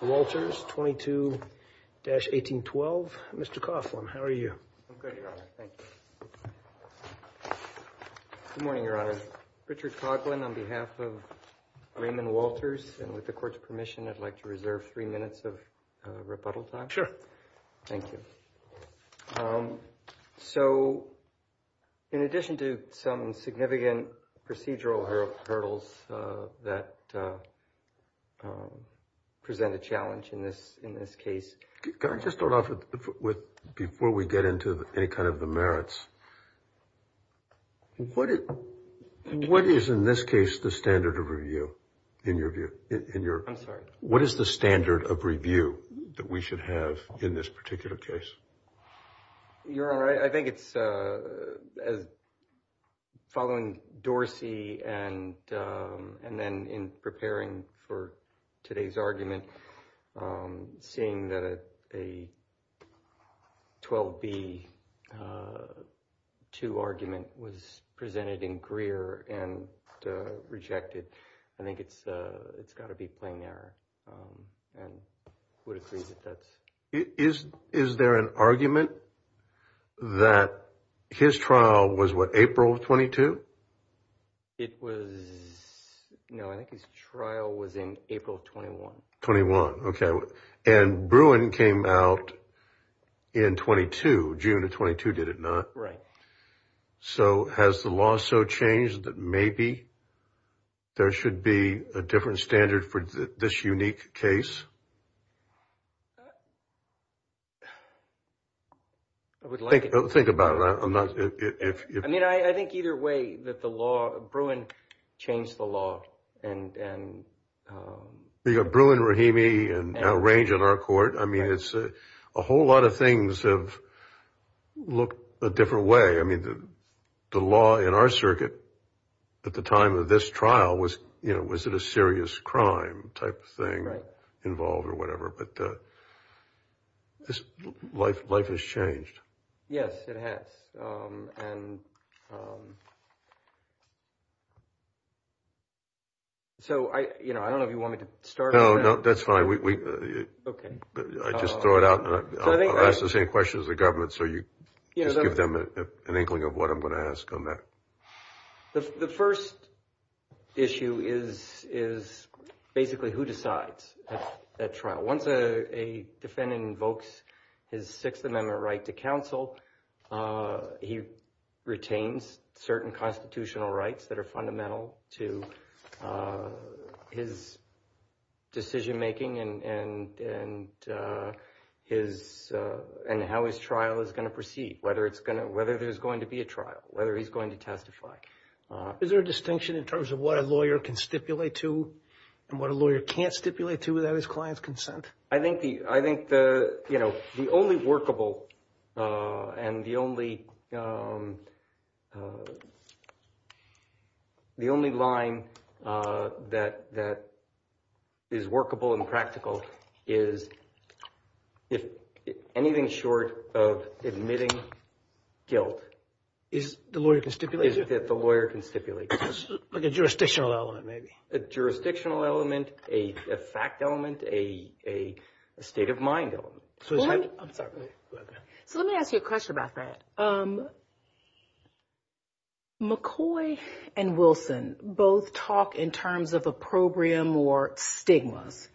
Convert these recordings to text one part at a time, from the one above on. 22-1812. Mr. Coughlin, how are you? I'm good, your honor. Thank you. Good morning, your honor. Richard Coughlin on behalf of Raymon Walters, and with the court's permission, I'd like to reserve three minutes of rebuttal time. Sure. Thank you. So, in addition to some significant procedural hurdles that present a challenge in this case. Can I just start off with, before we get into any kind of the merits, what is in this case the standard of review, in your view? I'm sorry. What is the standard of review that we should have in this particular case? Your honor, I think it's as following Dorsey and then in preparing for today's argument, seeing that a 12-B-2 argument was presented in Greer and rejected. I think it's got to be plain error. And who disagrees with that? Is there an argument that his trial was what, April of 22? It was, no, I think his trial was in April of 21. 21, okay. And Bruin came out in 22, June of 22, did it not? Right. So, has the law so changed that maybe there should be a different standard for this unique case? I would like it. Think about it. I mean, I think either way that the law, Bruin changed the law. You got Bruin, Rahimi, and now Range on our court. I mean, it's a whole lot of things have looked a different way. I mean, the law in our circuit at the time of this trial was, you know, was it a serious crime type of thing involved or whatever, but life has changed. Yes, it has. And so I, you know, I don't know if you want me to start. No, no, that's fine. Okay. I just throw it out and I'll ask the same question as the government. So you just give them an inkling of what I'm going to ask on that. The first issue is basically who decides at trial. Once a defendant invokes his Sixth Amendment right to counsel, he retains certain constitutional rights that are fundamental to his decision making and how his trial is going to proceed. Whether it's going to, whether there's going to be a trial, whether he's going to testify. Is there a distinction in terms of what a lawyer can stipulate to and what a lawyer can't stipulate to without his client's consent? I think the, I think the, you know, the only workable and the only, the only line that is workable and practical is if anything short of admitting guilt. Is the lawyer can stipulate? Is that the lawyer can stipulate. Like a jurisdictional element maybe. A jurisdictional element, a fact element, a state of mind element. I'm sorry. Go ahead. So let me ask you a question about that. McCoy and Wilson both talk in terms of opprobrium or stigmas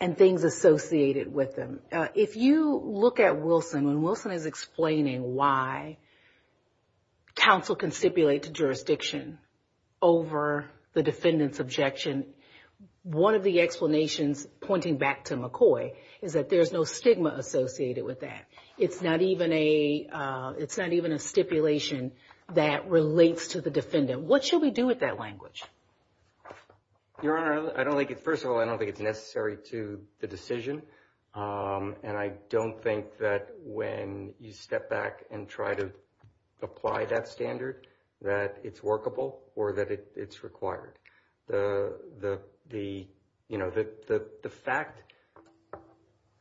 and things associated with them. If you look at Wilson, when Wilson is explaining why counsel can stipulate to jurisdiction over the defendant's objection, one of the explanations pointing back to McCoy is that there's no stigma associated with that. It's not even a, it's not even a stipulation that relates to the defendant. What should we do with that language? Your Honor, I don't think, first of all, I don't think it's necessary to the decision. And I don't think that when you step back and try to apply that standard, that it's workable or that it's required. The fact,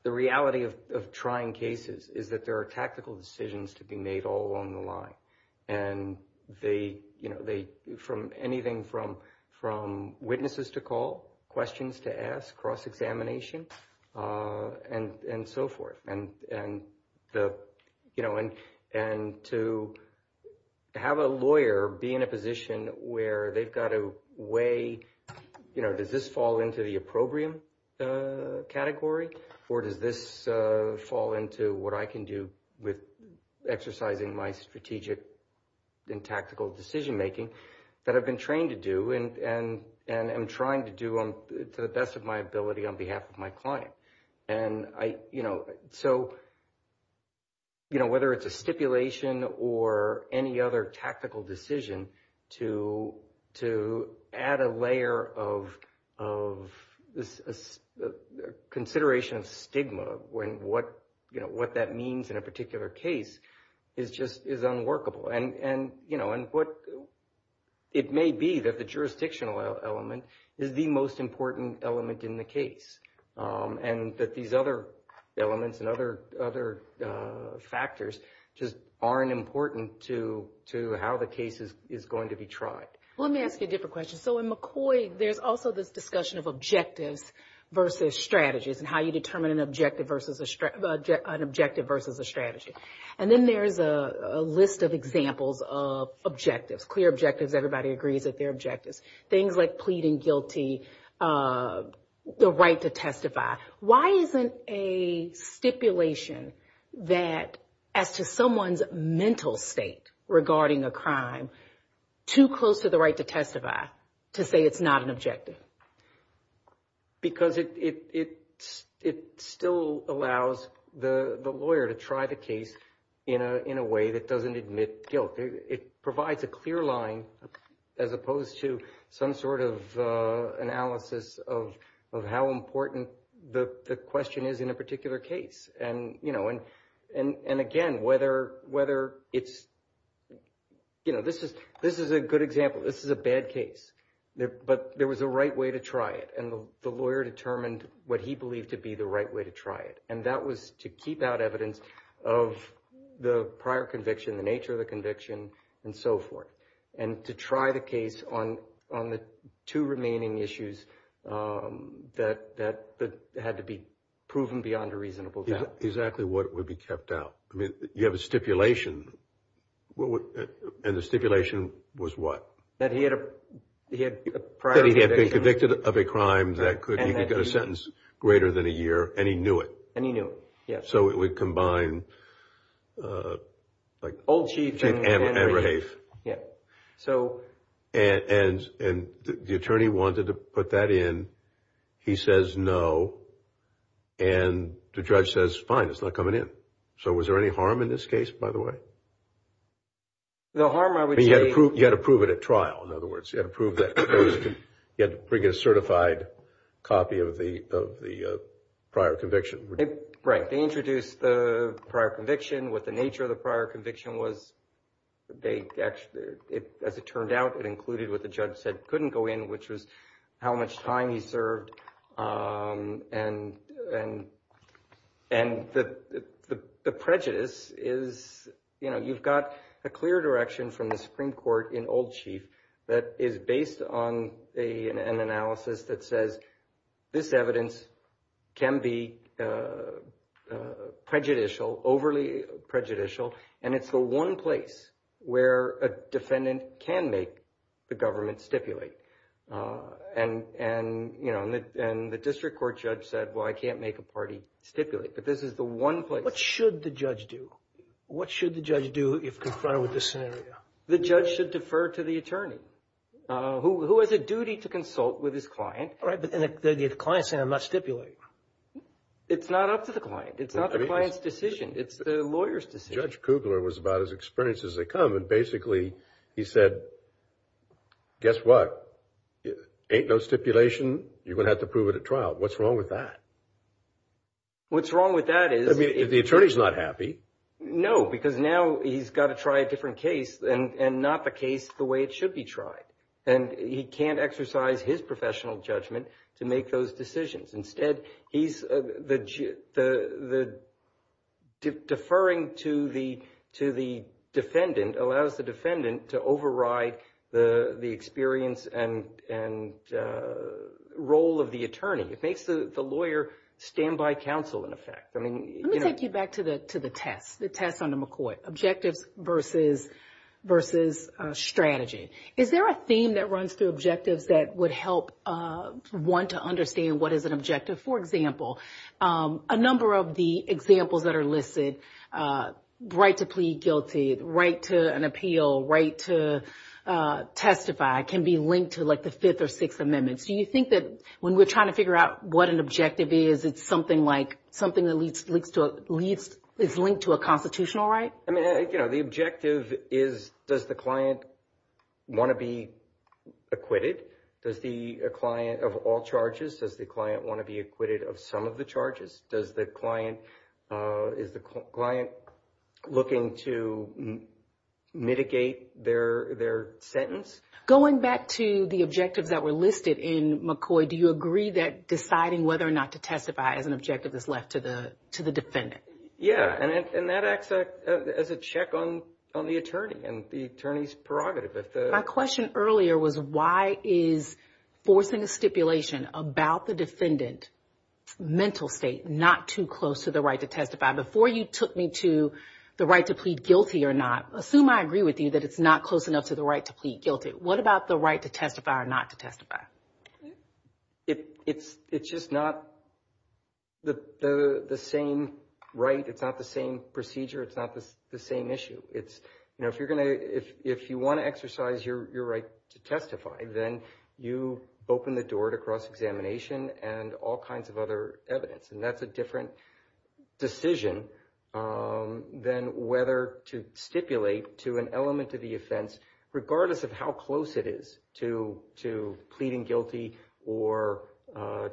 the reality of trying cases is that there are tactical decisions to be made all along the line. And they, from anything from witnesses to call, questions to ask, cross-examination, and so forth. And to have a lawyer be in a position where they've got a way, you know, does this fall into the opprobrium category? Or does this fall into what I can do with exercising my strategic and tactical decision-making that I've been trained to do and am trying to do to the best of my ability on behalf of my client? And I, you know, so, you know, whether it's a stipulation or any other tactical decision, to add a layer of consideration of stigma when what, you know, what that means in a particular case is just, is unworkable. And, you know, and what, it may be that the jurisdictional element is the most important element in the case. And that these other elements and other factors just aren't important to how the case is going to be tried. Well, let me ask you a different question. So in McCoy, there's also this discussion of objectives versus strategies and how you determine an objective versus a strategy. And then there's a list of examples of objectives, clear objectives, everybody agrees that they're objectives. Things like pleading guilty, the right to testify. Why isn't a stipulation that, as to someone's mental state regarding a crime, too close to the right to testify to say it's not an objective? Because it still allows the lawyer to try the case in a way that doesn't admit guilt. It provides a clear line as opposed to some sort of analysis of how important the question is in a particular case. And, you know, and again, whether it's, you know, this is a good example. This is a bad case. But there was a right way to try it. And the lawyer determined what he believed to be the right way to try it. And that was to keep out evidence of the prior conviction, the nature of the conviction, and so forth. And to try the case on the two remaining issues that had to be proven beyond a reasonable doubt. Exactly what would be kept out. I mean, you have a stipulation. And the stipulation was what? That he had a prior conviction. He was convicted of a crime that he could get a sentence greater than a year. And he knew it. And he knew it, yes. So it would combine. Old chief. And rehave. Yeah. So. And the attorney wanted to put that in. He says no. And the judge says, fine, it's not coming in. So was there any harm in this case, by the way? The harm, I would say. You had to prove it at trial, in other words. You had to prove that. You had to bring a certified copy of the prior conviction. Right. They introduced the prior conviction, what the nature of the prior conviction was. As it turned out, it included what the judge said couldn't go in, which was how much time he served. And the prejudice is, you know, you've got a clear direction from the Supreme Court in old chief. That is based on an analysis that says this evidence can be prejudicial, overly prejudicial. And it's the one place where a defendant can make the government stipulate. And, you know, the district court judge said, well, I can't make a party stipulate. But this is the one place. What should the judge do? What should the judge do if confronted with this scenario? The judge should defer to the attorney, who has a duty to consult with his client. All right. But the client is saying I must stipulate. It's not up to the client. It's not the client's decision. It's the lawyer's decision. Judge Kugler was about as experienced as they come. And basically he said, guess what? Ain't no stipulation. You're going to have to prove it at trial. What's wrong with that? What's wrong with that is. I mean, if the attorney's not happy. No, because now he's got to try a different case and not the case the way it should be tried. And he can't exercise his professional judgment to make those decisions. Instead, deferring to the defendant allows the defendant to override the experience and role of the attorney. It makes the lawyer stand by counsel, in effect. Let me take you back to the test, the test under McCoy, objectives versus strategy. Is there a theme that runs through objectives that would help one to understand what is an objective? For example, a number of the examples that are listed, right to plead guilty, right to an appeal, right to testify, can be linked to like the fifth or sixth amendments. Do you think that when we're trying to figure out what an objective is, it's something like something that leads to a constitutional right? I mean, you know, the objective is, does the client want to be acquitted? Does the client of all charges, does the client want to be acquitted of some of the charges? Does the client, is the client looking to mitigate their sentence? Going back to the objectives that were listed in McCoy, do you agree that deciding whether or not to testify as an objective is left to the defendant? Yeah, and that acts as a check on the attorney and the attorney's prerogative. My question earlier was why is forcing a stipulation about the defendant's mental state not too close to the right to testify? Before you took me to the right to plead guilty or not, assume I agree with you that it's not close enough to the right to plead guilty. What about the right to testify or not to testify? It's just not the same right. It's not the same procedure. It's not the same issue. If you want to exercise your right to testify, then you open the door to cross-examination and all kinds of other evidence, and that's a different decision than whether to stipulate to an element of the offense, regardless of how close it is to pleading guilty or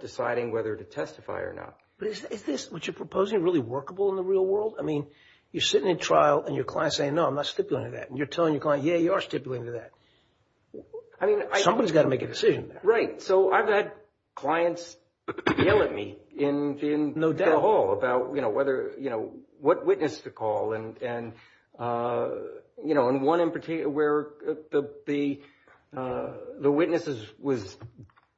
deciding whether to testify or not. But is this, what you're proposing, really workable in the real world? I mean, you're sitting in trial and your client's saying, no, I'm not stipulating that, and you're telling your client, yeah, you are stipulating to that. Somebody's got to make a decision. Right. So I've had clients yell at me in the hall about what witness to call, and one in particular where the witness was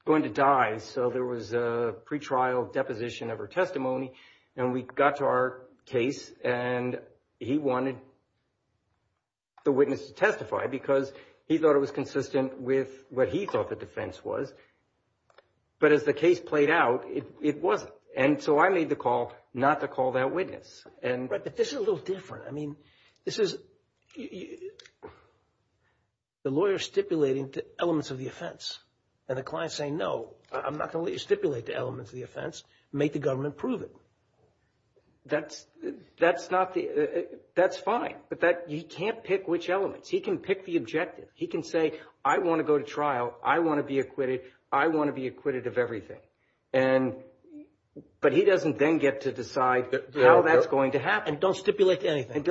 going to die, so there was a pretrial deposition of her testimony, and we got to our case and he wanted the witness to testify because he thought it was consistent with what he thought the defense was. But as the case played out, it wasn't. And so I made the call not to call that witness. Right, but this is a little different. I mean, this is the lawyer stipulating to elements of the offense, and the client's saying, no, I'm not going to let you stipulate to elements of the offense. Make the government prove it. That's fine, but he can't pick which elements. He can pick the objective. He can say, I want to go to trial. I want to be acquitted. I want to be acquitted of everything. But he doesn't then get to decide how that's going to happen. Don't stipulate to anything.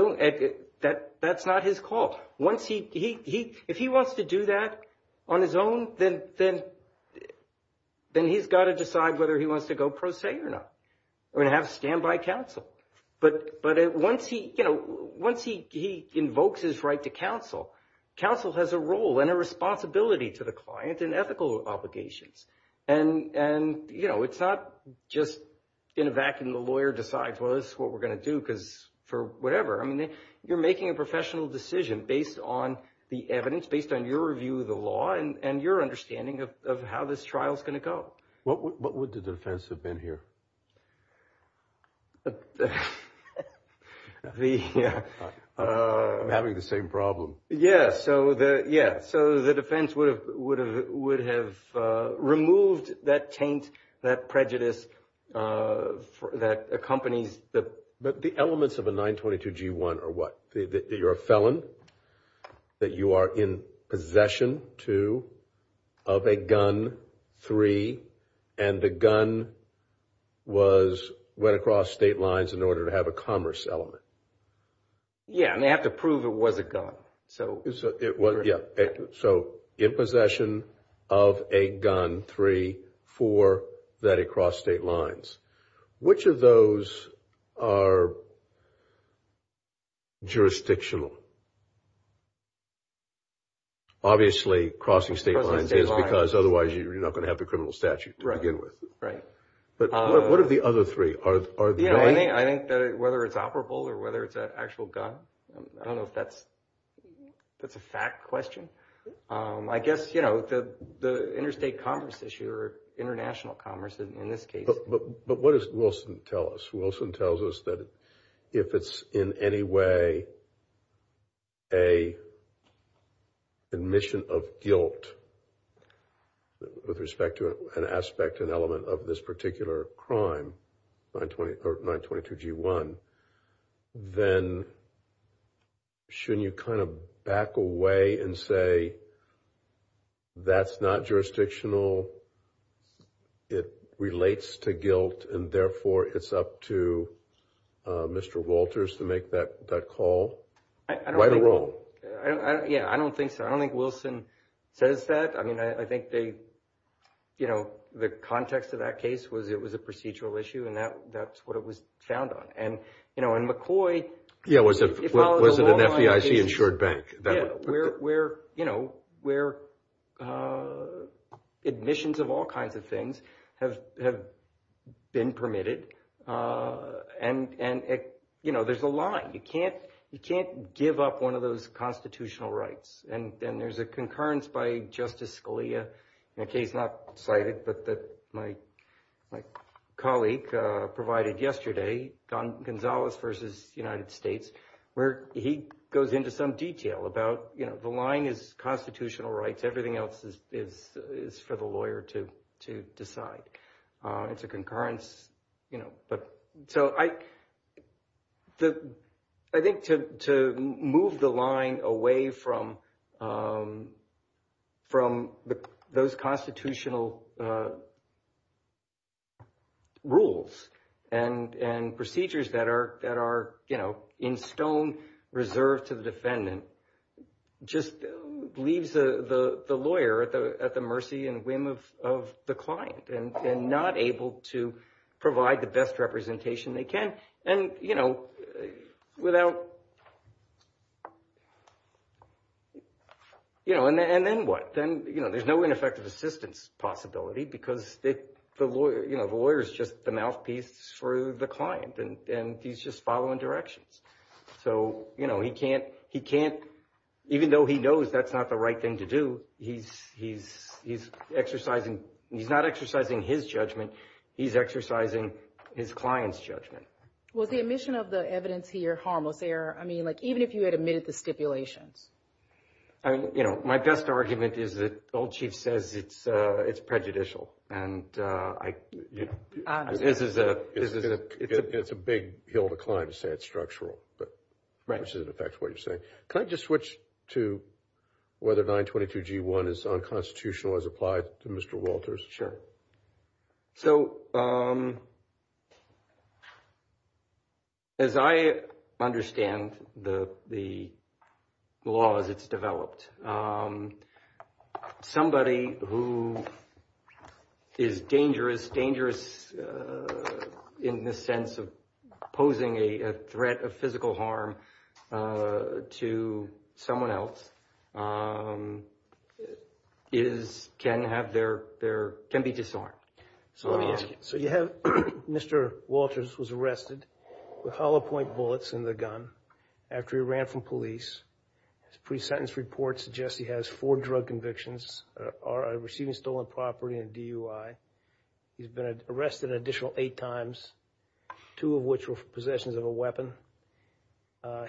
That's not his call. If he wants to do that on his own, then he's got to decide whether he wants to go pro se or not. We're going to have a standby counsel. But once he invokes his right to counsel, counsel has a role and a responsibility to the client and ethical obligations. And, you know, it's not just in a vacuum. The lawyer decides, well, this is what we're going to do because for whatever. I mean, you're making a professional decision based on the evidence, based on your review of the law and your understanding of how this trial is going to go. What would the defense have been here? I'm having the same problem. Yeah, so the defense would have removed that taint, that prejudice that accompanies the. But the elements of a 922-G1 are what? That you're a felon, that you are in possession, two, of a gun, three, and the gun was went across state lines in order to have a commerce element. Yeah, and they have to prove it was a gun. So in possession of a gun, three, four, that it crossed state lines. Which of those are jurisdictional? Obviously, crossing state lines is because otherwise you're not going to have the criminal statute to begin with. Right. But what are the other three? I think whether it's operable or whether it's an actual gun. I don't know if that's a fact question. I guess the interstate commerce issue or international commerce in this case. But what does Wilson tell us? Wilson tells us that if it's in any way an admission of guilt with respect to an aspect, an element of this particular crime, 922-G1, then shouldn't you kind of back away and say, that's not jurisdictional, it relates to guilt, and therefore it's up to Mr. Walters to make that call? Yeah, I don't think so. I don't think Wilson says that. I mean, I think the context of that case was it was a procedural issue, and that's what it was found on. And McCoy follows a long line of cases. Yeah, was it an FDIC-insured bank? Yeah, where admissions of all kinds of things have been permitted, and there's a line. You can't give up one of those constitutional rights. And there's a concurrence by Justice Scalia in a case not cited but that my colleague provided yesterday, Gonzalez v. United States, where he goes into some detail about the line is constitutional rights, everything else is for the lawyer to decide. It's a concurrence. So I think to move the line away from those constitutional rules and procedures that are, you know, reserved to the defendant just leaves the lawyer at the mercy and whim of the client and not able to provide the best representation they can. And, you know, without, you know, and then what? Then, you know, there's no ineffective assistance possibility because, you know, the lawyer is just the mouthpiece for the client, and he's just following directions. So, you know, he can't, even though he knows that's not the right thing to do, he's exercising, he's not exercising his judgment, he's exercising his client's judgment. Was the admission of the evidence here harmless error? I mean, like even if you had admitted the stipulations? I mean, you know, my best argument is that the old chief says it's prejudicial, and I, you know, this is a... It's a big hill to climb to say it's structural. Right. Which is in effect what you're saying. Can I just switch to whether 922G1 is unconstitutional as applied to Mr. Walters? So, as I understand the laws it's developed, somebody who is dangerous, in the sense of posing a threat of physical harm to someone else, is, can have their, can be disarmed. So let me ask you. So you have Mr. Walters was arrested with hollow point bullets in the gun after he ran from police. His pre-sentence report suggests he has four drug convictions, receiving stolen property and DUI. He's been arrested an additional eight times, two of which were possessions of a weapon.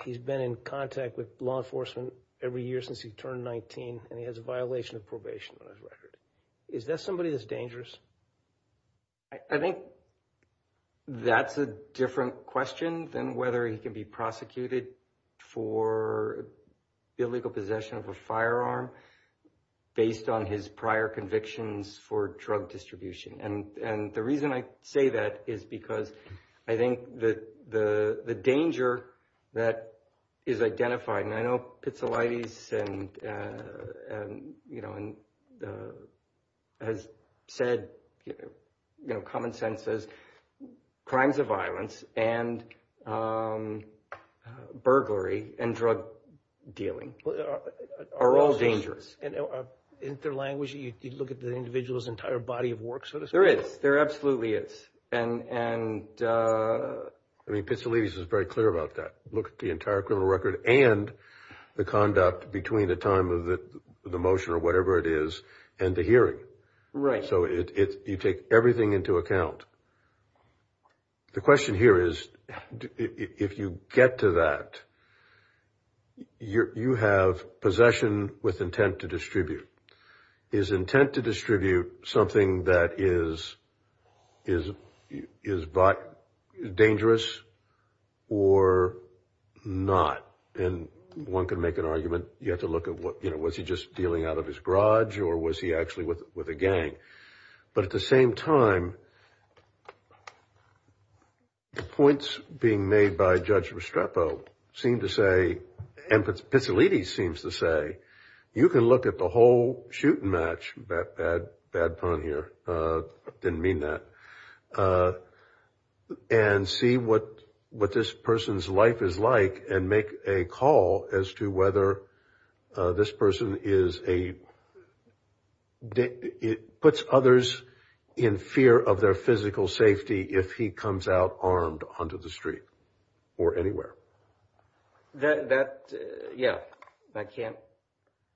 He's been in contact with law enforcement every year since he turned 19, and he has a violation of probation on his record. Is that somebody that's dangerous? I think that's a different question than whether he can be prosecuted for illegal possession of a firearm based on his prior convictions for drug distribution. And the reason I say that is because I think that the danger that is identified, and I know Pizzolatti has said, common sense says, crimes of violence and burglary and drug dealing are all dangerous. In their language, you look at the individual's entire body of work, so to speak. There is. There absolutely is. And I mean, Pizzolatti is very clear about that. Look at the entire criminal record and the conduct between the time of the motion or whatever it is and the hearing. Right. So you take everything into account. The question here is, if you get to that, you have possession with intent to distribute. Is intent to distribute something that is dangerous or not? And one can make an argument. You have to look at, you know, was he just dealing out of his garage or was he actually with a gang? But at the same time, the points being made by Judge Restrepo seem to say, and Pizzolatti seems to say, you can look at the whole shoot and match, bad pun here, didn't mean that, and see what this person's life is like and make a call as to whether this person is a, puts others in fear of their physical safety if he comes out armed onto the street or anywhere. That, yeah, I can't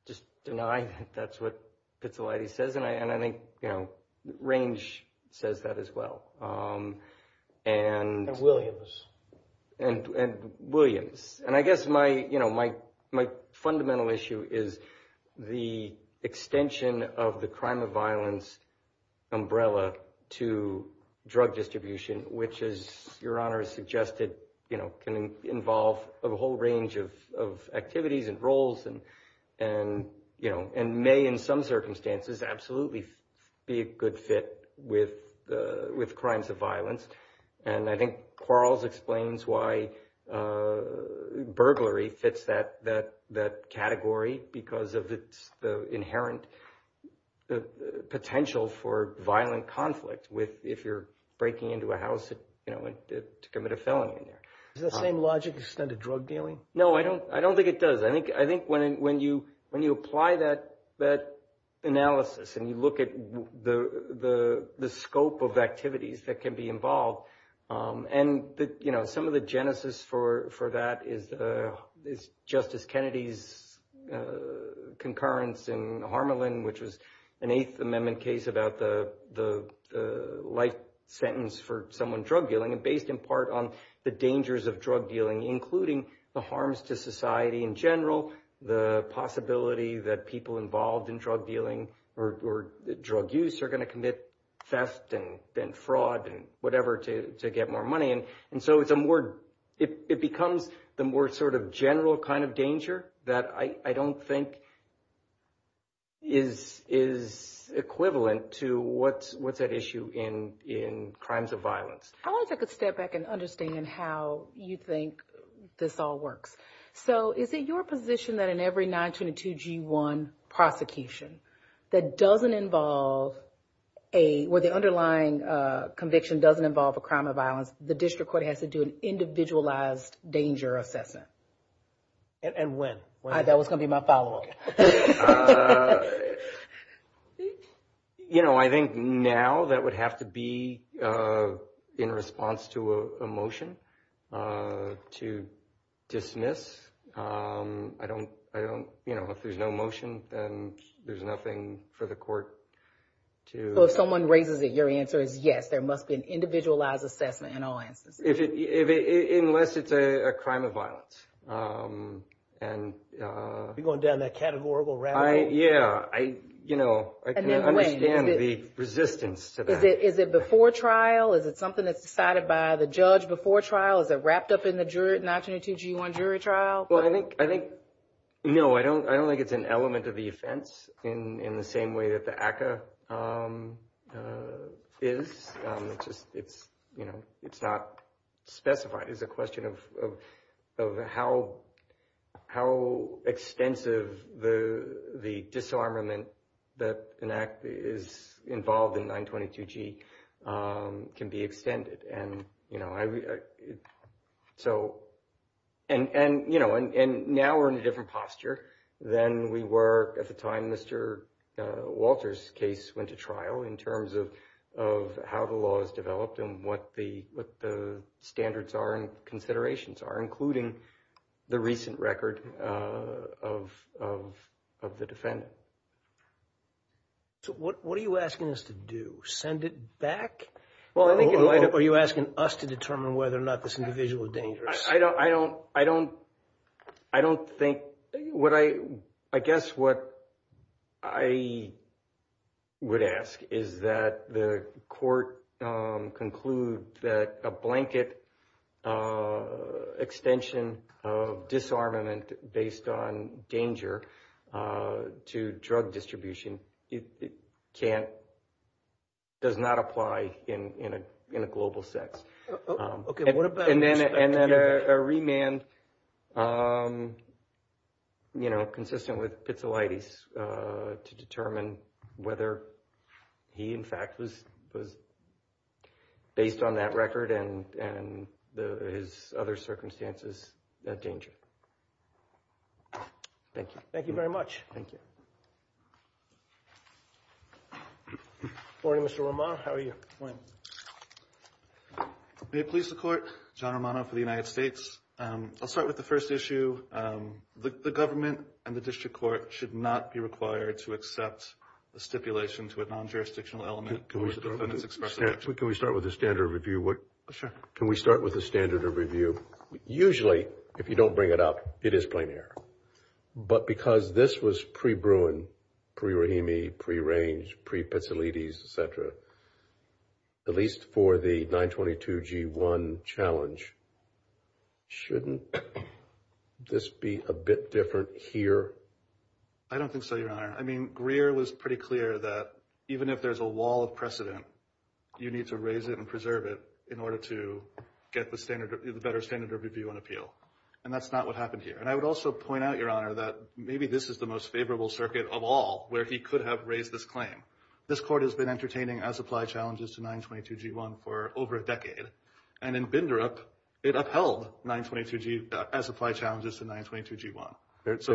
just deny that's what Pizzolatti says. And I think, you know, Range says that as well. And Williams. And Williams. And I guess my, you know, my fundamental issue is the extension of the crime of violence umbrella to drug distribution, which, as Your Honor has suggested, you know, can involve a whole range of activities and roles and, you know, and may in some circumstances absolutely be a good fit with crimes of violence. And I think Quarles explains why burglary fits that category, because of its inherent potential for violent conflict if you're breaking into a house to commit a felony in there. Is the same logic extended to drug dealing? No, I don't think it does. I think when you apply that analysis and you look at the scope of activities that can be involved, and, you know, some of the genesis for that is Justice Kennedy's concurrence in Harmelin, which was an Eighth Amendment case about the life sentence for someone drug dealing, and based in part on the dangers of drug dealing, including the harms to society in general, the possibility that people involved in drug dealing or drug use are going to commit theft and fraud and whatever to get more money. And so it's a more – it becomes the more sort of general kind of danger that I don't think is equivalent to what's at issue in crimes of violence. I want to take a step back and understand how you think this all works. So is it your position that in every 922G1 prosecution that doesn't involve a – where the underlying conviction doesn't involve a crime of violence, the district court has to do an individualized danger assessment? And when? That was going to be my follow-up. You know, I think now that would have to be in response to a motion to dismiss. I don't – you know, if there's no motion, then there's nothing for the court to – Well, if someone raises it, your answer is yes, there must be an individualized assessment in all instances. Unless it's a crime of violence. You're going down that categorical rabbit hole? Yeah. You know, I can understand the resistance to that. Is it before trial? Is it something that's decided by the judge before trial? Is it wrapped up in the 922G1 jury trial? Well, I think – no, I don't think it's an element of the offense in the same way that the ACCA is. It's just – you know, it's not specified. It's a question of how extensive the disarmament that is involved in 922G can be extended. And, you know, I – so – and, you know, and now we're in a different posture than we were at the time Mr. Walter's case went to trial in terms of how the law is developed and what the standards are and considerations are, including the recent record of the defendant. So what are you asking us to do? Send it back? Or are you asking us to determine whether or not this individual is dangerous? I don't think – I guess what I would ask is that the court conclude that a blanket extension of disarmament based on danger to drug distribution can't – does not apply in a global sense. Okay, what about – And then a remand, you know, consistent with pizzolitis to determine whether he, in fact, was based on that record and his other circumstances of danger. Thank you. Thank you very much. Thank you. Good morning, Mr. Romano. How are you? Good morning. May it please the Court, John Romano for the United States. I'll start with the first issue. The government and the district court should not be required to accept a stipulation to a non-jurisdictional element. Can we start with the standard review? Sure. Can we start with the standard review? Usually, if you don't bring it up, it is plain error. But because this was pre-Bruin, pre-Rahimi, pre-Range, pre-pizzolitis, et cetera, at least for the 922G1 challenge, shouldn't this be a bit different here? I don't think so, Your Honor. I mean, Greer was pretty clear that even if there's a wall of precedent, you need to raise it and preserve it in order to get the better standard review and appeal. And that's not what happened here. And I would also point out, Your Honor, that maybe this is the most favorable circuit of all where he could have raised this claim. This Court has been entertaining as-applied challenges to 922G1 for over a decade. And in Bindrup, it upheld 922G1 as-applied challenges to 922G1. There's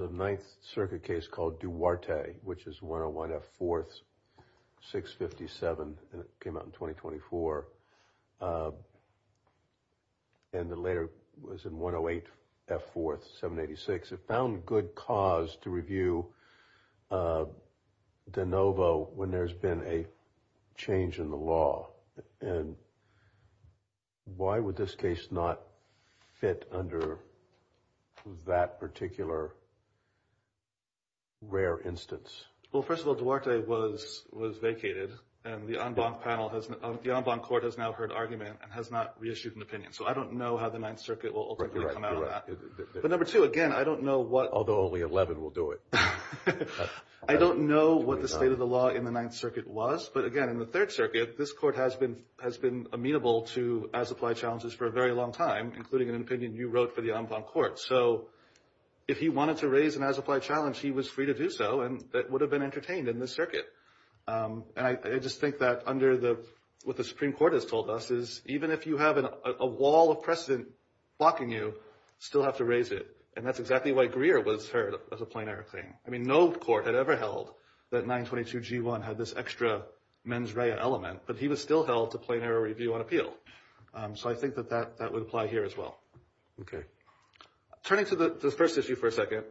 a Ninth Circuit case called Duarte, which is 101F4, 657, and it came out in 2024. And the later was in 108F4, 786. It found good cause to review de novo when there's been a change in the law. And why would this case not fit under that particular rare instance? Well, first of all, Duarte was vacated. And the en banc panel has – the en banc court has now heard argument and has not reissued an opinion. So I don't know how the Ninth Circuit will ultimately come out on that. But, number two, again, I don't know what – Although only 11 will do it. I don't know what the state of the law in the Ninth Circuit was. But, again, in the Third Circuit, this Court has been amenable to as-applied challenges for a very long time, including an opinion you wrote for the en banc court. So if he wanted to raise an as-applied challenge, he was free to do so. And that would have been entertained in this circuit. And I just think that under the – what the Supreme Court has told us is even if you have a wall of precedent blocking you, you still have to raise it. And that's exactly why Greer was heard as a plain error claim. I mean, no court had ever held that 922G1 had this extra mens rea element. But he was still held to plain error review and appeal. So I think that that would apply here as well. Okay. Turning to the first issue for a second,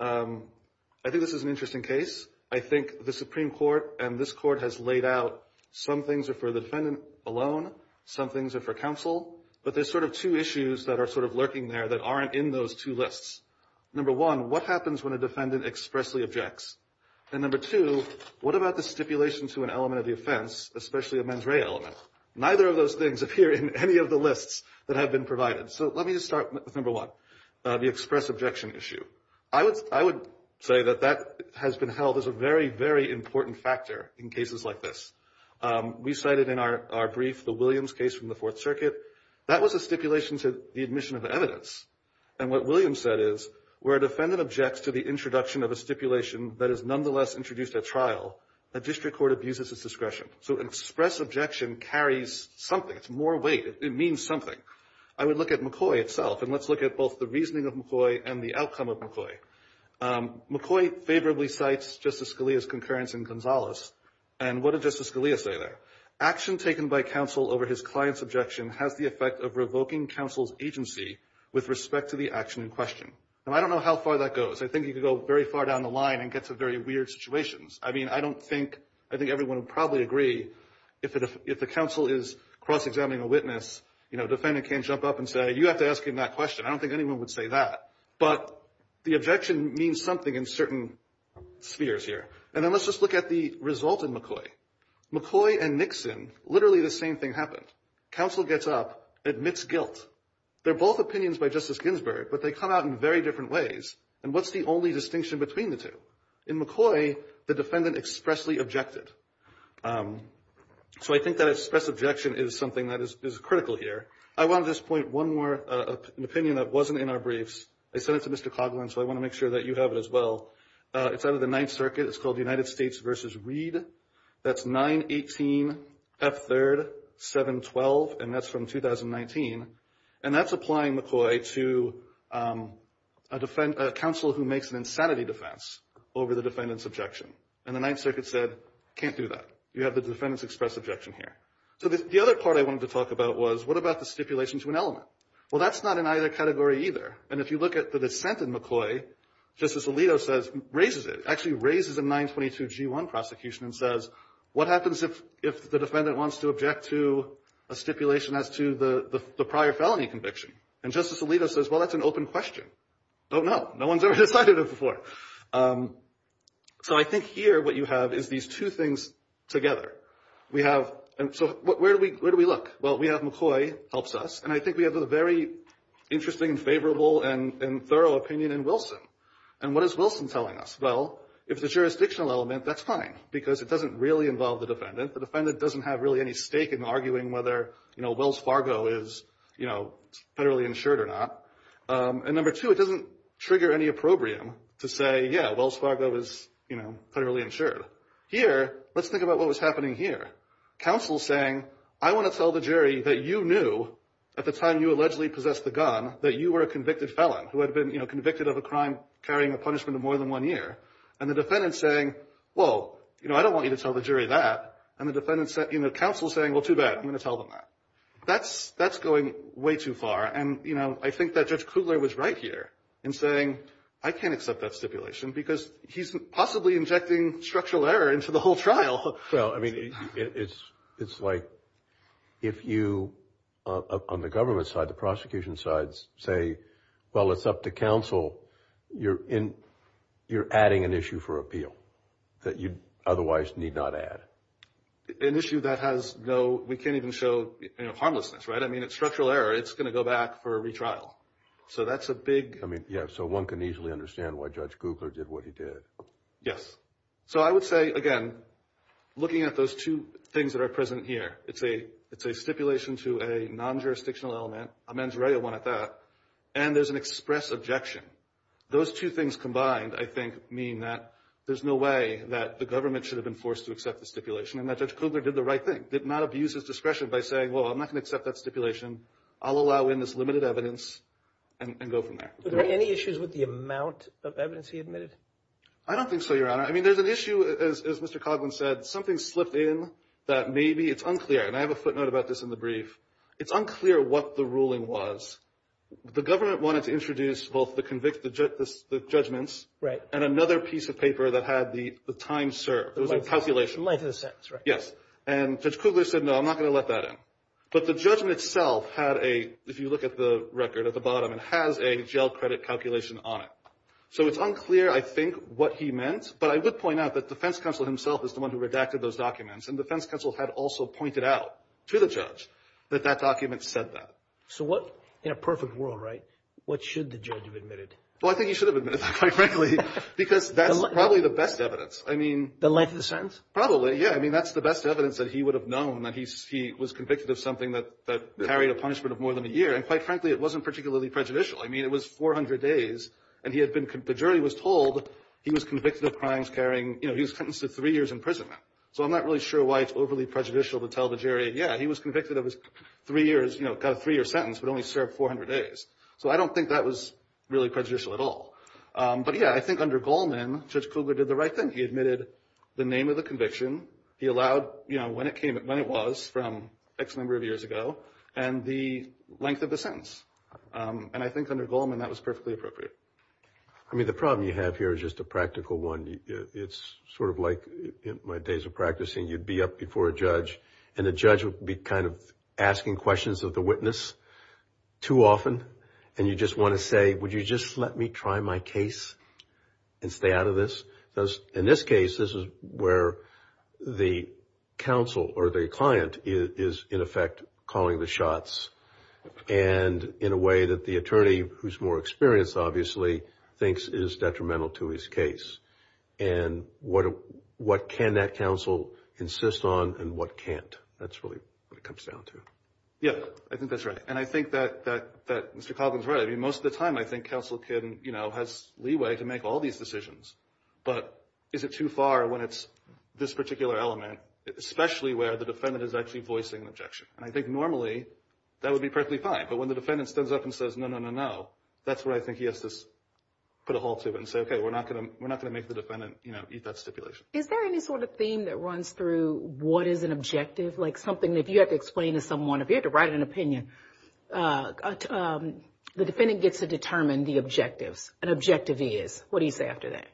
I think this is an interesting case. I think the Supreme Court and this Court has laid out some things are for the defendant alone. Some things are for counsel. But there's sort of two issues that are sort of lurking there that aren't in those two lists. Number one, what happens when a defendant expressly objects? And number two, what about the stipulation to an element of the offense, especially a mens rea element? Neither of those things appear in any of the lists that have been provided. So let me just start with number one, the express objection issue. I would say that that has been held as a very, very important factor in cases like this. We cited in our brief the Williams case from the Fourth Circuit. That was a stipulation to the admission of evidence. And what Williams said is, where a defendant objects to the introduction of a stipulation that is nonetheless introduced at trial, a district court abuses its discretion. So an express objection carries something. It's more weight. It means something. I would look at McCoy itself, and let's look at both the reasoning of McCoy and the outcome of McCoy. McCoy favorably cites Justice Scalia's concurrence in Gonzales. And what did Justice Scalia say there? Action taken by counsel over his client's objection has the effect of revoking counsel's agency with respect to the action in question. Now, I don't know how far that goes. I think you could go very far down the line and get to very weird situations. I mean, I don't think, I think everyone would probably agree if the counsel is cross-examining a witness, you know, defendant can't jump up and say, you have to ask him that question. I don't think anyone would say that. But the objection means something in certain spheres here. And then let's just look at the result in McCoy. McCoy and Nixon, literally the same thing happened. Counsel gets up, admits guilt. They're both opinions by Justice Ginsburg, but they come out in very different ways. And what's the only distinction between the two? In McCoy, the defendant expressly objected. So I think that express objection is something that is critical here. I want to just point one more opinion that wasn't in our briefs. I sent it to Mr. Coghlan, so I want to make sure that you have it as well. It's out of the Ninth Circuit. It's called United States v. Reed. That's 918F3-712, and that's from 2019. And that's applying McCoy to a counsel who makes an insanity defense over the defendant's objection. And the Ninth Circuit said, can't do that. You have the defendant's express objection here. So the other part I wanted to talk about was, what about the stipulation to an element? Well, that's not in either category either. And if you look at the dissent in McCoy, Justice Alito raises it, actually raises a 922G1 prosecution and says, what happens if the defendant wants to object to a stipulation as to the prior felony conviction? And Justice Alito says, well, that's an open question. Don't know. No one's ever decided it before. So I think here what you have is these two things together. So where do we look? Well, we have McCoy helps us, and I think we have a very interesting and favorable and thorough opinion in Wilson. And what is Wilson telling us? Well, if it's a jurisdictional element, that's fine because it doesn't really involve the defendant. The defendant doesn't have really any stake in arguing whether, you know, Wells Fargo is, you know, federally insured or not. And number two, it doesn't trigger any opprobrium to say, yeah, Wells Fargo is, you know, federally insured. Here, let's think about what was happening here. Counsel saying, I want to tell the jury that you knew at the time you allegedly possessed the gun that you were a convicted felon who had been, you know, convicted of a crime carrying a punishment of more than one year. And the defendant saying, well, you know, I don't want you to tell the jury that. And the defendant said, you know, counsel saying, well, too bad, I'm going to tell them that. That's going way too far. And, you know, I think that Judge Kugler was right here in saying, I can't accept that stipulation because he's possibly injecting structural error into the whole trial. Well, I mean, it's like if you, on the government side, the prosecution sides say, well, it's up to counsel, you're adding an issue for appeal that you otherwise need not add. An issue that has no, we can't even show, you know, harmlessness, right? I mean, it's structural error. It's going to go back for a retrial. So that's a big. I mean, yeah, so one can easily understand why Judge Kugler did what he did. Yes. So I would say, again, looking at those two things that are present here, it's a stipulation to a non-jurisdictional element, and there's an express objection. Those two things combined, I think, mean that there's no way that the government should have been forced to accept the stipulation and that Judge Kugler did the right thing, did not abuse his discretion by saying, well, I'm not going to accept that stipulation. I'll allow in this limited evidence and go from there. Are there any issues with the amount of evidence he admitted? I don't think so, Your Honor. I mean, there's an issue, as Mr. Coughlin said, something slipped in that maybe it's unclear. And I have a footnote about this in the brief. It's unclear what the ruling was. The government wanted to introduce both the judgments and another piece of paper that had the time served. It was a calculation. In light of the sentence, right. Yes. And Judge Kugler said, no, I'm not going to let that in. But the judgment itself had a, if you look at the record at the bottom, it has a jail credit calculation on it. So it's unclear, I think, what he meant. But I would point out that defense counsel himself is the one who redacted those documents, and defense counsel had also pointed out to the judge, that that document said that. So what, in a perfect world, right, what should the judge have admitted? Well, I think he should have admitted that, quite frankly, because that's probably the best evidence. I mean. The length of the sentence? Probably, yeah. I mean, that's the best evidence that he would have known that he was convicted of something that carried a punishment of more than a year. And quite frankly, it wasn't particularly prejudicial. I mean, it was 400 days, and he had been, the jury was told he was convicted of crimes carrying, you know, he was sentenced to three years in prison. So I'm not really sure why it's overly prejudicial to tell the jury, yeah, he was convicted of his three years, you know, got a three-year sentence, but only served 400 days. So I don't think that was really prejudicial at all. But, yeah, I think under Goldman, Judge Cougar did the right thing. He admitted the name of the conviction, he allowed, you know, when it came, when it was from X number of years ago, and the length of the sentence. And I think under Goldman, that was perfectly appropriate. I mean, the problem you have here is just a practical one. It's sort of like in my days of practicing, you'd be up before a judge, and the judge would be kind of asking questions of the witness too often, and you just want to say, would you just let me try my case and stay out of this? In this case, this is where the counsel or the client is, in effect, calling the shots, and in a way that the attorney, who's more experienced, obviously, thinks is detrimental to his case. And what can that counsel insist on and what can't? That's really what it comes down to. Yeah, I think that's right. And I think that Mr. Coughlin's right. I mean, most of the time I think counsel can, you know, has leeway to make all these decisions. But is it too far when it's this particular element, especially where the defendant is actually voicing an objection? And I think normally that would be perfectly fine. But when the defendant stands up and says, no, no, no, no, that's where I think he has to put a halt to it and say, okay, we're not going to make the defendant eat that stipulation. Is there any sort of theme that runs through what is an objective? Like something that if you have to explain to someone, if you have to write an opinion, the defendant gets to determine the objectives, an objective he is. What do you say after that?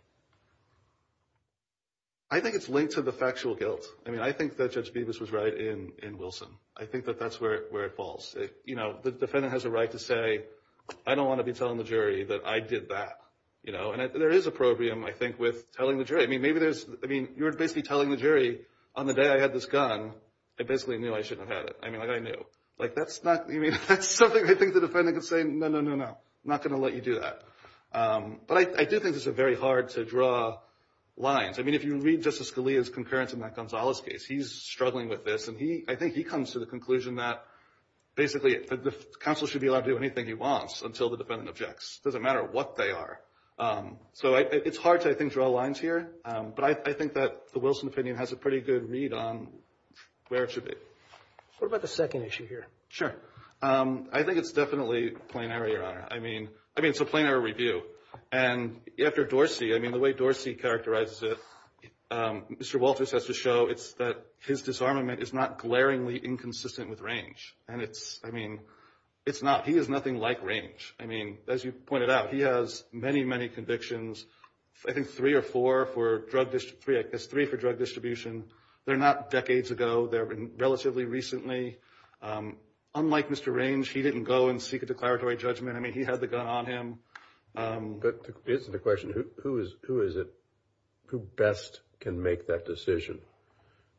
I think it's linked to the factual guilt. I mean, I think that Judge Bevis was right in Wilson. I think that that's where it falls. You know, the defendant has a right to say, I don't want to be telling the jury that I did that. You know, and there is a problem, I think, with telling the jury. I mean, you're basically telling the jury, on the day I had this gun, I basically knew I shouldn't have had it. I mean, like I knew. That's something I think the defendant could say, no, no, no, no, I'm not going to let you do that. But I do think this is very hard to draw lines. I mean, if you read Justice Scalia's concurrence in that Gonzalez case, he's struggling with this. And I think he comes to the conclusion that basically the counsel should be allowed to do anything he wants until the defendant objects. It doesn't matter what they are. So it's hard to, I think, draw lines here. But I think that the Wilson opinion has a pretty good read on where it should be. What about the second issue here? Sure. I think it's definitely plain error, Your Honor. I mean, it's a plain error review. And after Dorsey, I mean, the way Dorsey characterizes it, Mr. Walters has to show it's that his disarmament is not glaringly inconsistent with range. And it's, I mean, it's not. He is nothing like range. I mean, as you pointed out, he has many, many convictions. I think three or four for drug distribution. There's three for drug distribution. They're not decades ago. They're relatively recently. Unlike Mr. Range, he didn't go and seek a declaratory judgment. I mean, he had the gun on him. But here's the question. Who is it, who best can make that decision?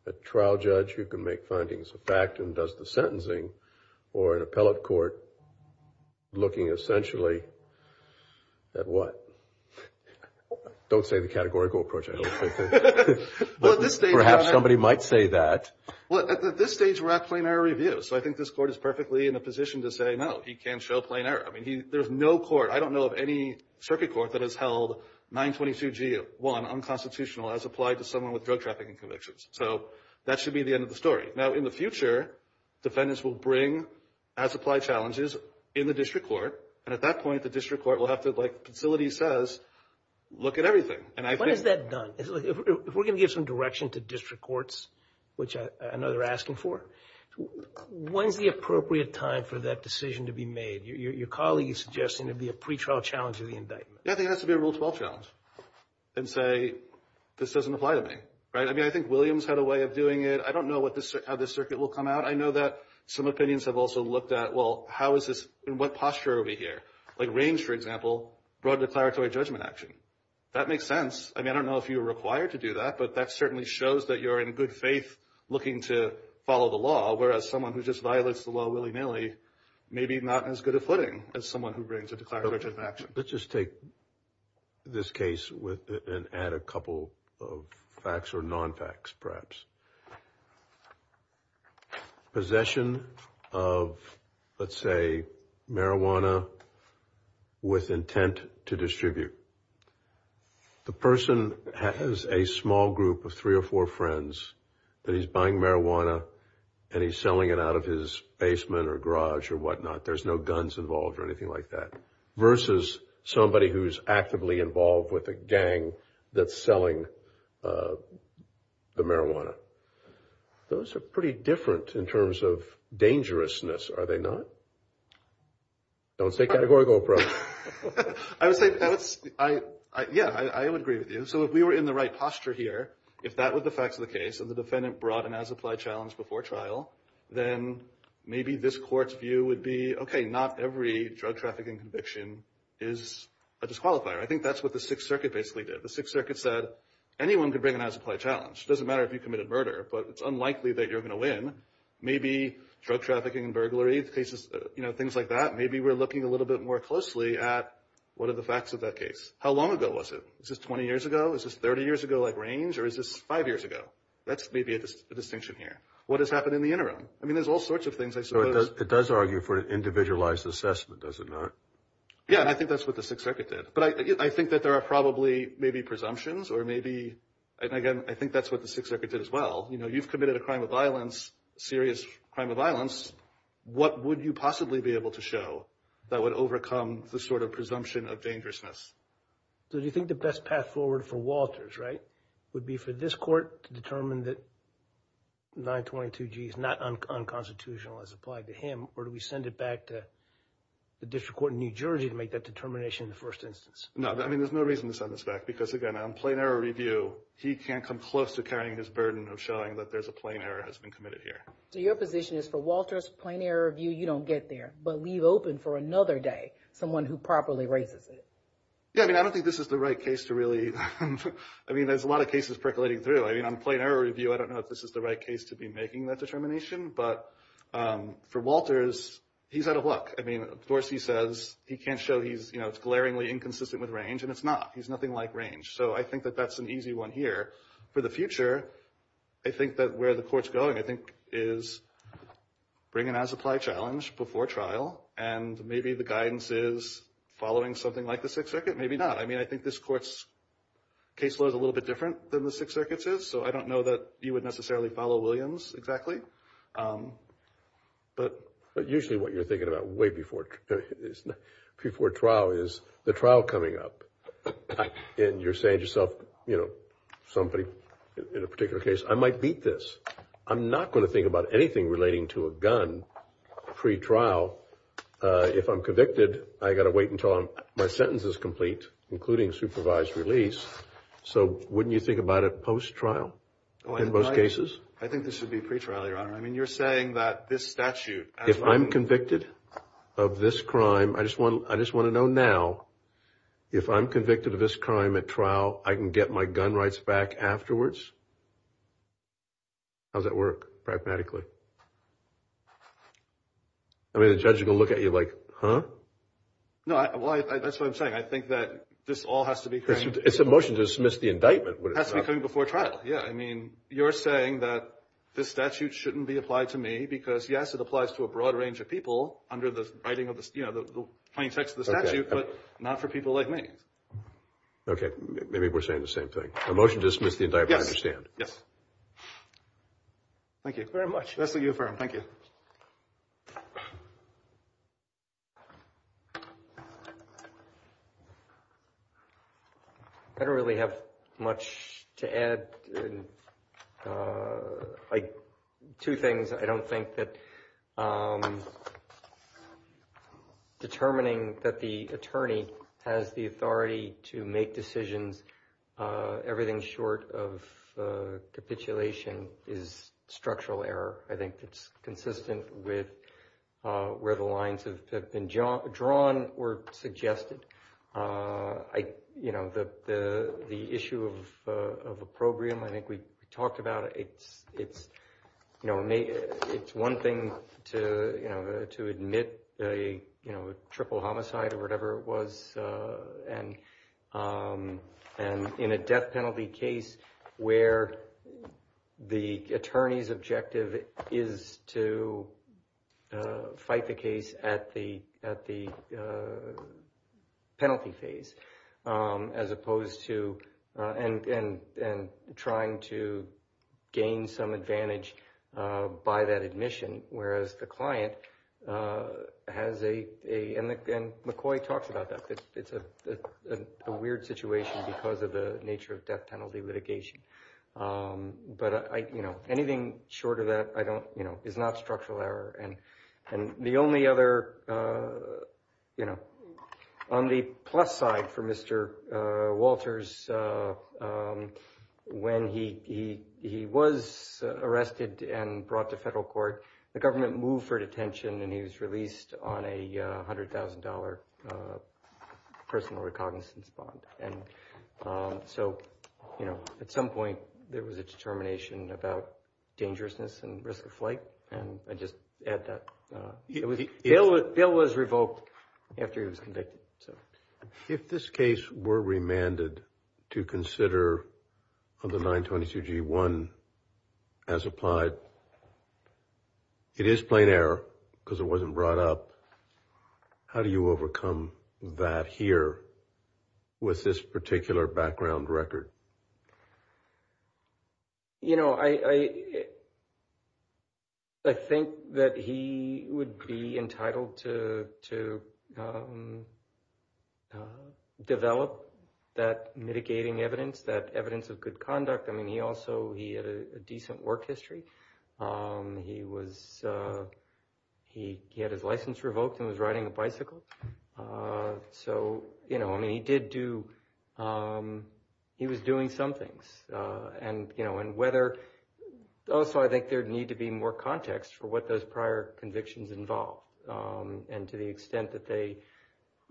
A trial judge who can make findings of fact and does the sentencing, or an appellate court looking essentially at what? Don't say the categorical approach. Perhaps somebody might say that. Well, at this stage, we're at plain error review. So I think this court is perfectly in a position to say, no, he can't show plain error. I mean, there's no court, I don't know of any circuit court, that has held 922G1 unconstitutional as applied to someone with drug trafficking convictions. So that should be the end of the story. Now, in the future, defendants will bring as applied challenges in the district court. And at that point, the district court will have to, like facility says, look at everything. When is that done? If we're going to give some direction to district courts, which I know they're asking for, when's the appropriate time for that decision to be made? Your colleague is suggesting it would be a pretrial challenge of the indictment. Yeah, I think it has to be a Rule 12 challenge and say, this doesn't apply to me. Right? I mean, I think Williams had a way of doing it. I don't know how this circuit will come out. I know that some opinions have also looked at, well, in what posture are we here? Like range, for example, broad declaratory judgment action. That makes sense. I mean, I don't know if you're required to do that, but that certainly shows that you're in good faith looking to follow the law, whereas someone who just violates the law willy-nilly may be not as good a footing as someone who brings a declaratory judgment action. Let's just take this case and add a couple of facts or non-facts, perhaps. Possession of, let's say, marijuana with intent to distribute. The person has a small group of three or four friends that he's buying marijuana and he's selling it out of his basement or garage or whatnot. There's no guns involved or anything like that. Versus somebody who's actively involved with a gang that's selling the marijuana. Those are pretty different in terms of dangerousness, are they not? Don't say category, GoPro. I would say, yeah, I would agree with you. So if we were in the right posture here, if that were the facts of the case and the defendant brought an as-applied challenge before trial, then maybe this court's view would be, okay, not every drug trafficking conviction is a disqualifier. I think that's what the Sixth Circuit basically did. The Sixth Circuit said anyone could bring an as-applied challenge. It doesn't matter if you committed murder, but it's unlikely that you're going to win. Maybe drug trafficking and burglary cases, things like that, maybe we're looking a little bit more closely at what are the facts of that case. How long ago was it? Is this 20 years ago? Is this 30 years ago, like, range? Or is this five years ago? That's maybe a distinction here. What has happened in the interim? I mean, there's all sorts of things, I suppose. It does argue for an individualized assessment, does it not? Yeah, and I think that's what the Sixth Circuit did. But I think that there are probably maybe presumptions or maybe, again, I think that's what the Sixth Circuit did as well. You know, you've committed a crime of violence, serious crime of violence. What would you possibly be able to show that would overcome the sort of presumption of dangerousness? So do you think the best path forward for Walters, right, would be for this court to determine that 922G is not unconstitutional as applied to him, or do we send it back to the district court in New Jersey to make that determination in the first instance? No, I mean, there's no reason to send this back. Because, again, on plain error review, he can't come close to carrying his burden of showing that there's a plain error has been committed here. So your position is for Walters, plain error review, you don't get there. But leave open for another day someone who properly raises it. Yeah, I mean, I don't think this is the right case to really, I mean, there's a lot of cases percolating through. I mean, on plain error review, I don't know if this is the right case to be making that determination. But for Walters, he's out of luck. I mean, of course he says he can't show he's, you know, it's glaringly inconsistent with range, and it's not. He's nothing like range. So I think that that's an easy one here. For the future, I think that where the court's going, I think, is bring an as-applied challenge before trial, and maybe the guidance is following something like the Sixth Circuit, maybe not. I mean, I think this court's case law is a little bit different than the Sixth Circuit's is, so I don't know that you would necessarily follow Williams exactly. But usually what you're thinking about way before trial is the trial coming up, and you're saying to yourself, you know, somebody in a particular case, I might beat this. I'm not going to think about anything relating to a gun pre-trial. If I'm convicted, I've got to wait until my sentence is complete, including supervised release. So wouldn't you think about it post-trial in most cases? I think this should be pre-trial, Your Honor. I mean, you're saying that this statute as one. If I'm convicted of this crime, I just want to know now if I'm convicted of this crime at trial, I can get my gun rights back afterwards? How does that work, pragmatically? I mean, the judge is going to look at you like, huh? No, that's what I'm saying. I think that this all has to be. It's a motion to dismiss the indictment. It has to be coming before trial. Yeah, I mean, you're saying that this statute shouldn't be applied to me because, yes, it applies to a broad range of people under the writing of the, you know, the plain text of the statute, but not for people like me. Okay. Maybe we're saying the same thing. A motion to dismiss the indictment, I understand. Thank you very much. That's the U of M. Thank you. I don't really have much to add. Two things. I don't think that determining that the attorney has the authority to make decisions, everything short of capitulation is structural error. I think it's consistent with where the lines have been drawn or suggested. You know, the issue of opprobrium, I think we talked about it. It's one thing to admit a triple homicide or whatever it was, and in a death penalty case where the attorney's objective is to fight the case at the death penalty phase as opposed to, and trying to gain some advantage by that admission, whereas the client has a, and McCoy talks about that, it's a weird situation because of the nature of death penalty litigation. But, you know, anything short of that, I don't, you know, is not structural error. And the only other, you know, on the plus side for Mr. Walters, when he was arrested and brought to federal court, the government moved for detention and he was released on a $100,000 personal recognizance bond. And so, you know, at some point there was a determination about dangerousness and risk of flight. And I just add that. Bill was revoked after he was convicted. If this case were remanded to consider under 922 G1 as applied, it is plain error because it wasn't brought up. How do you overcome that here with this particular background record? You know, I think that he would be entitled to develop that mitigating evidence, that evidence of good conduct. I mean, he also he had a decent work history. He was he he had his license revoked and was riding a bicycle. So, you know, I mean, he did do he was doing some things. And, you know, and whether also I think there need to be more context for what those prior convictions involve. And to the extent that they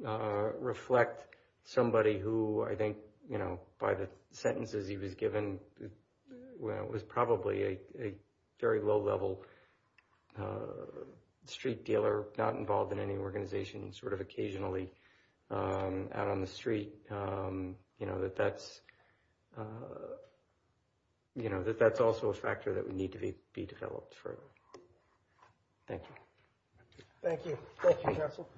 reflect somebody who I think, you know, by the sentences he was given, was probably a very low level street dealer, not involved in any organization, sort of occasionally out on the street. You know, that that's, you know, that that's also a factor that would need to be developed further. Thank you. Thank you. Thank you, Counsel.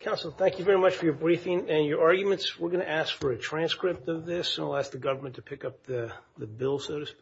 Counsel, thank you very much for your briefing and your arguments. We're going to ask for a transcript of this and I'll ask the government to pick up the bill, so to speak.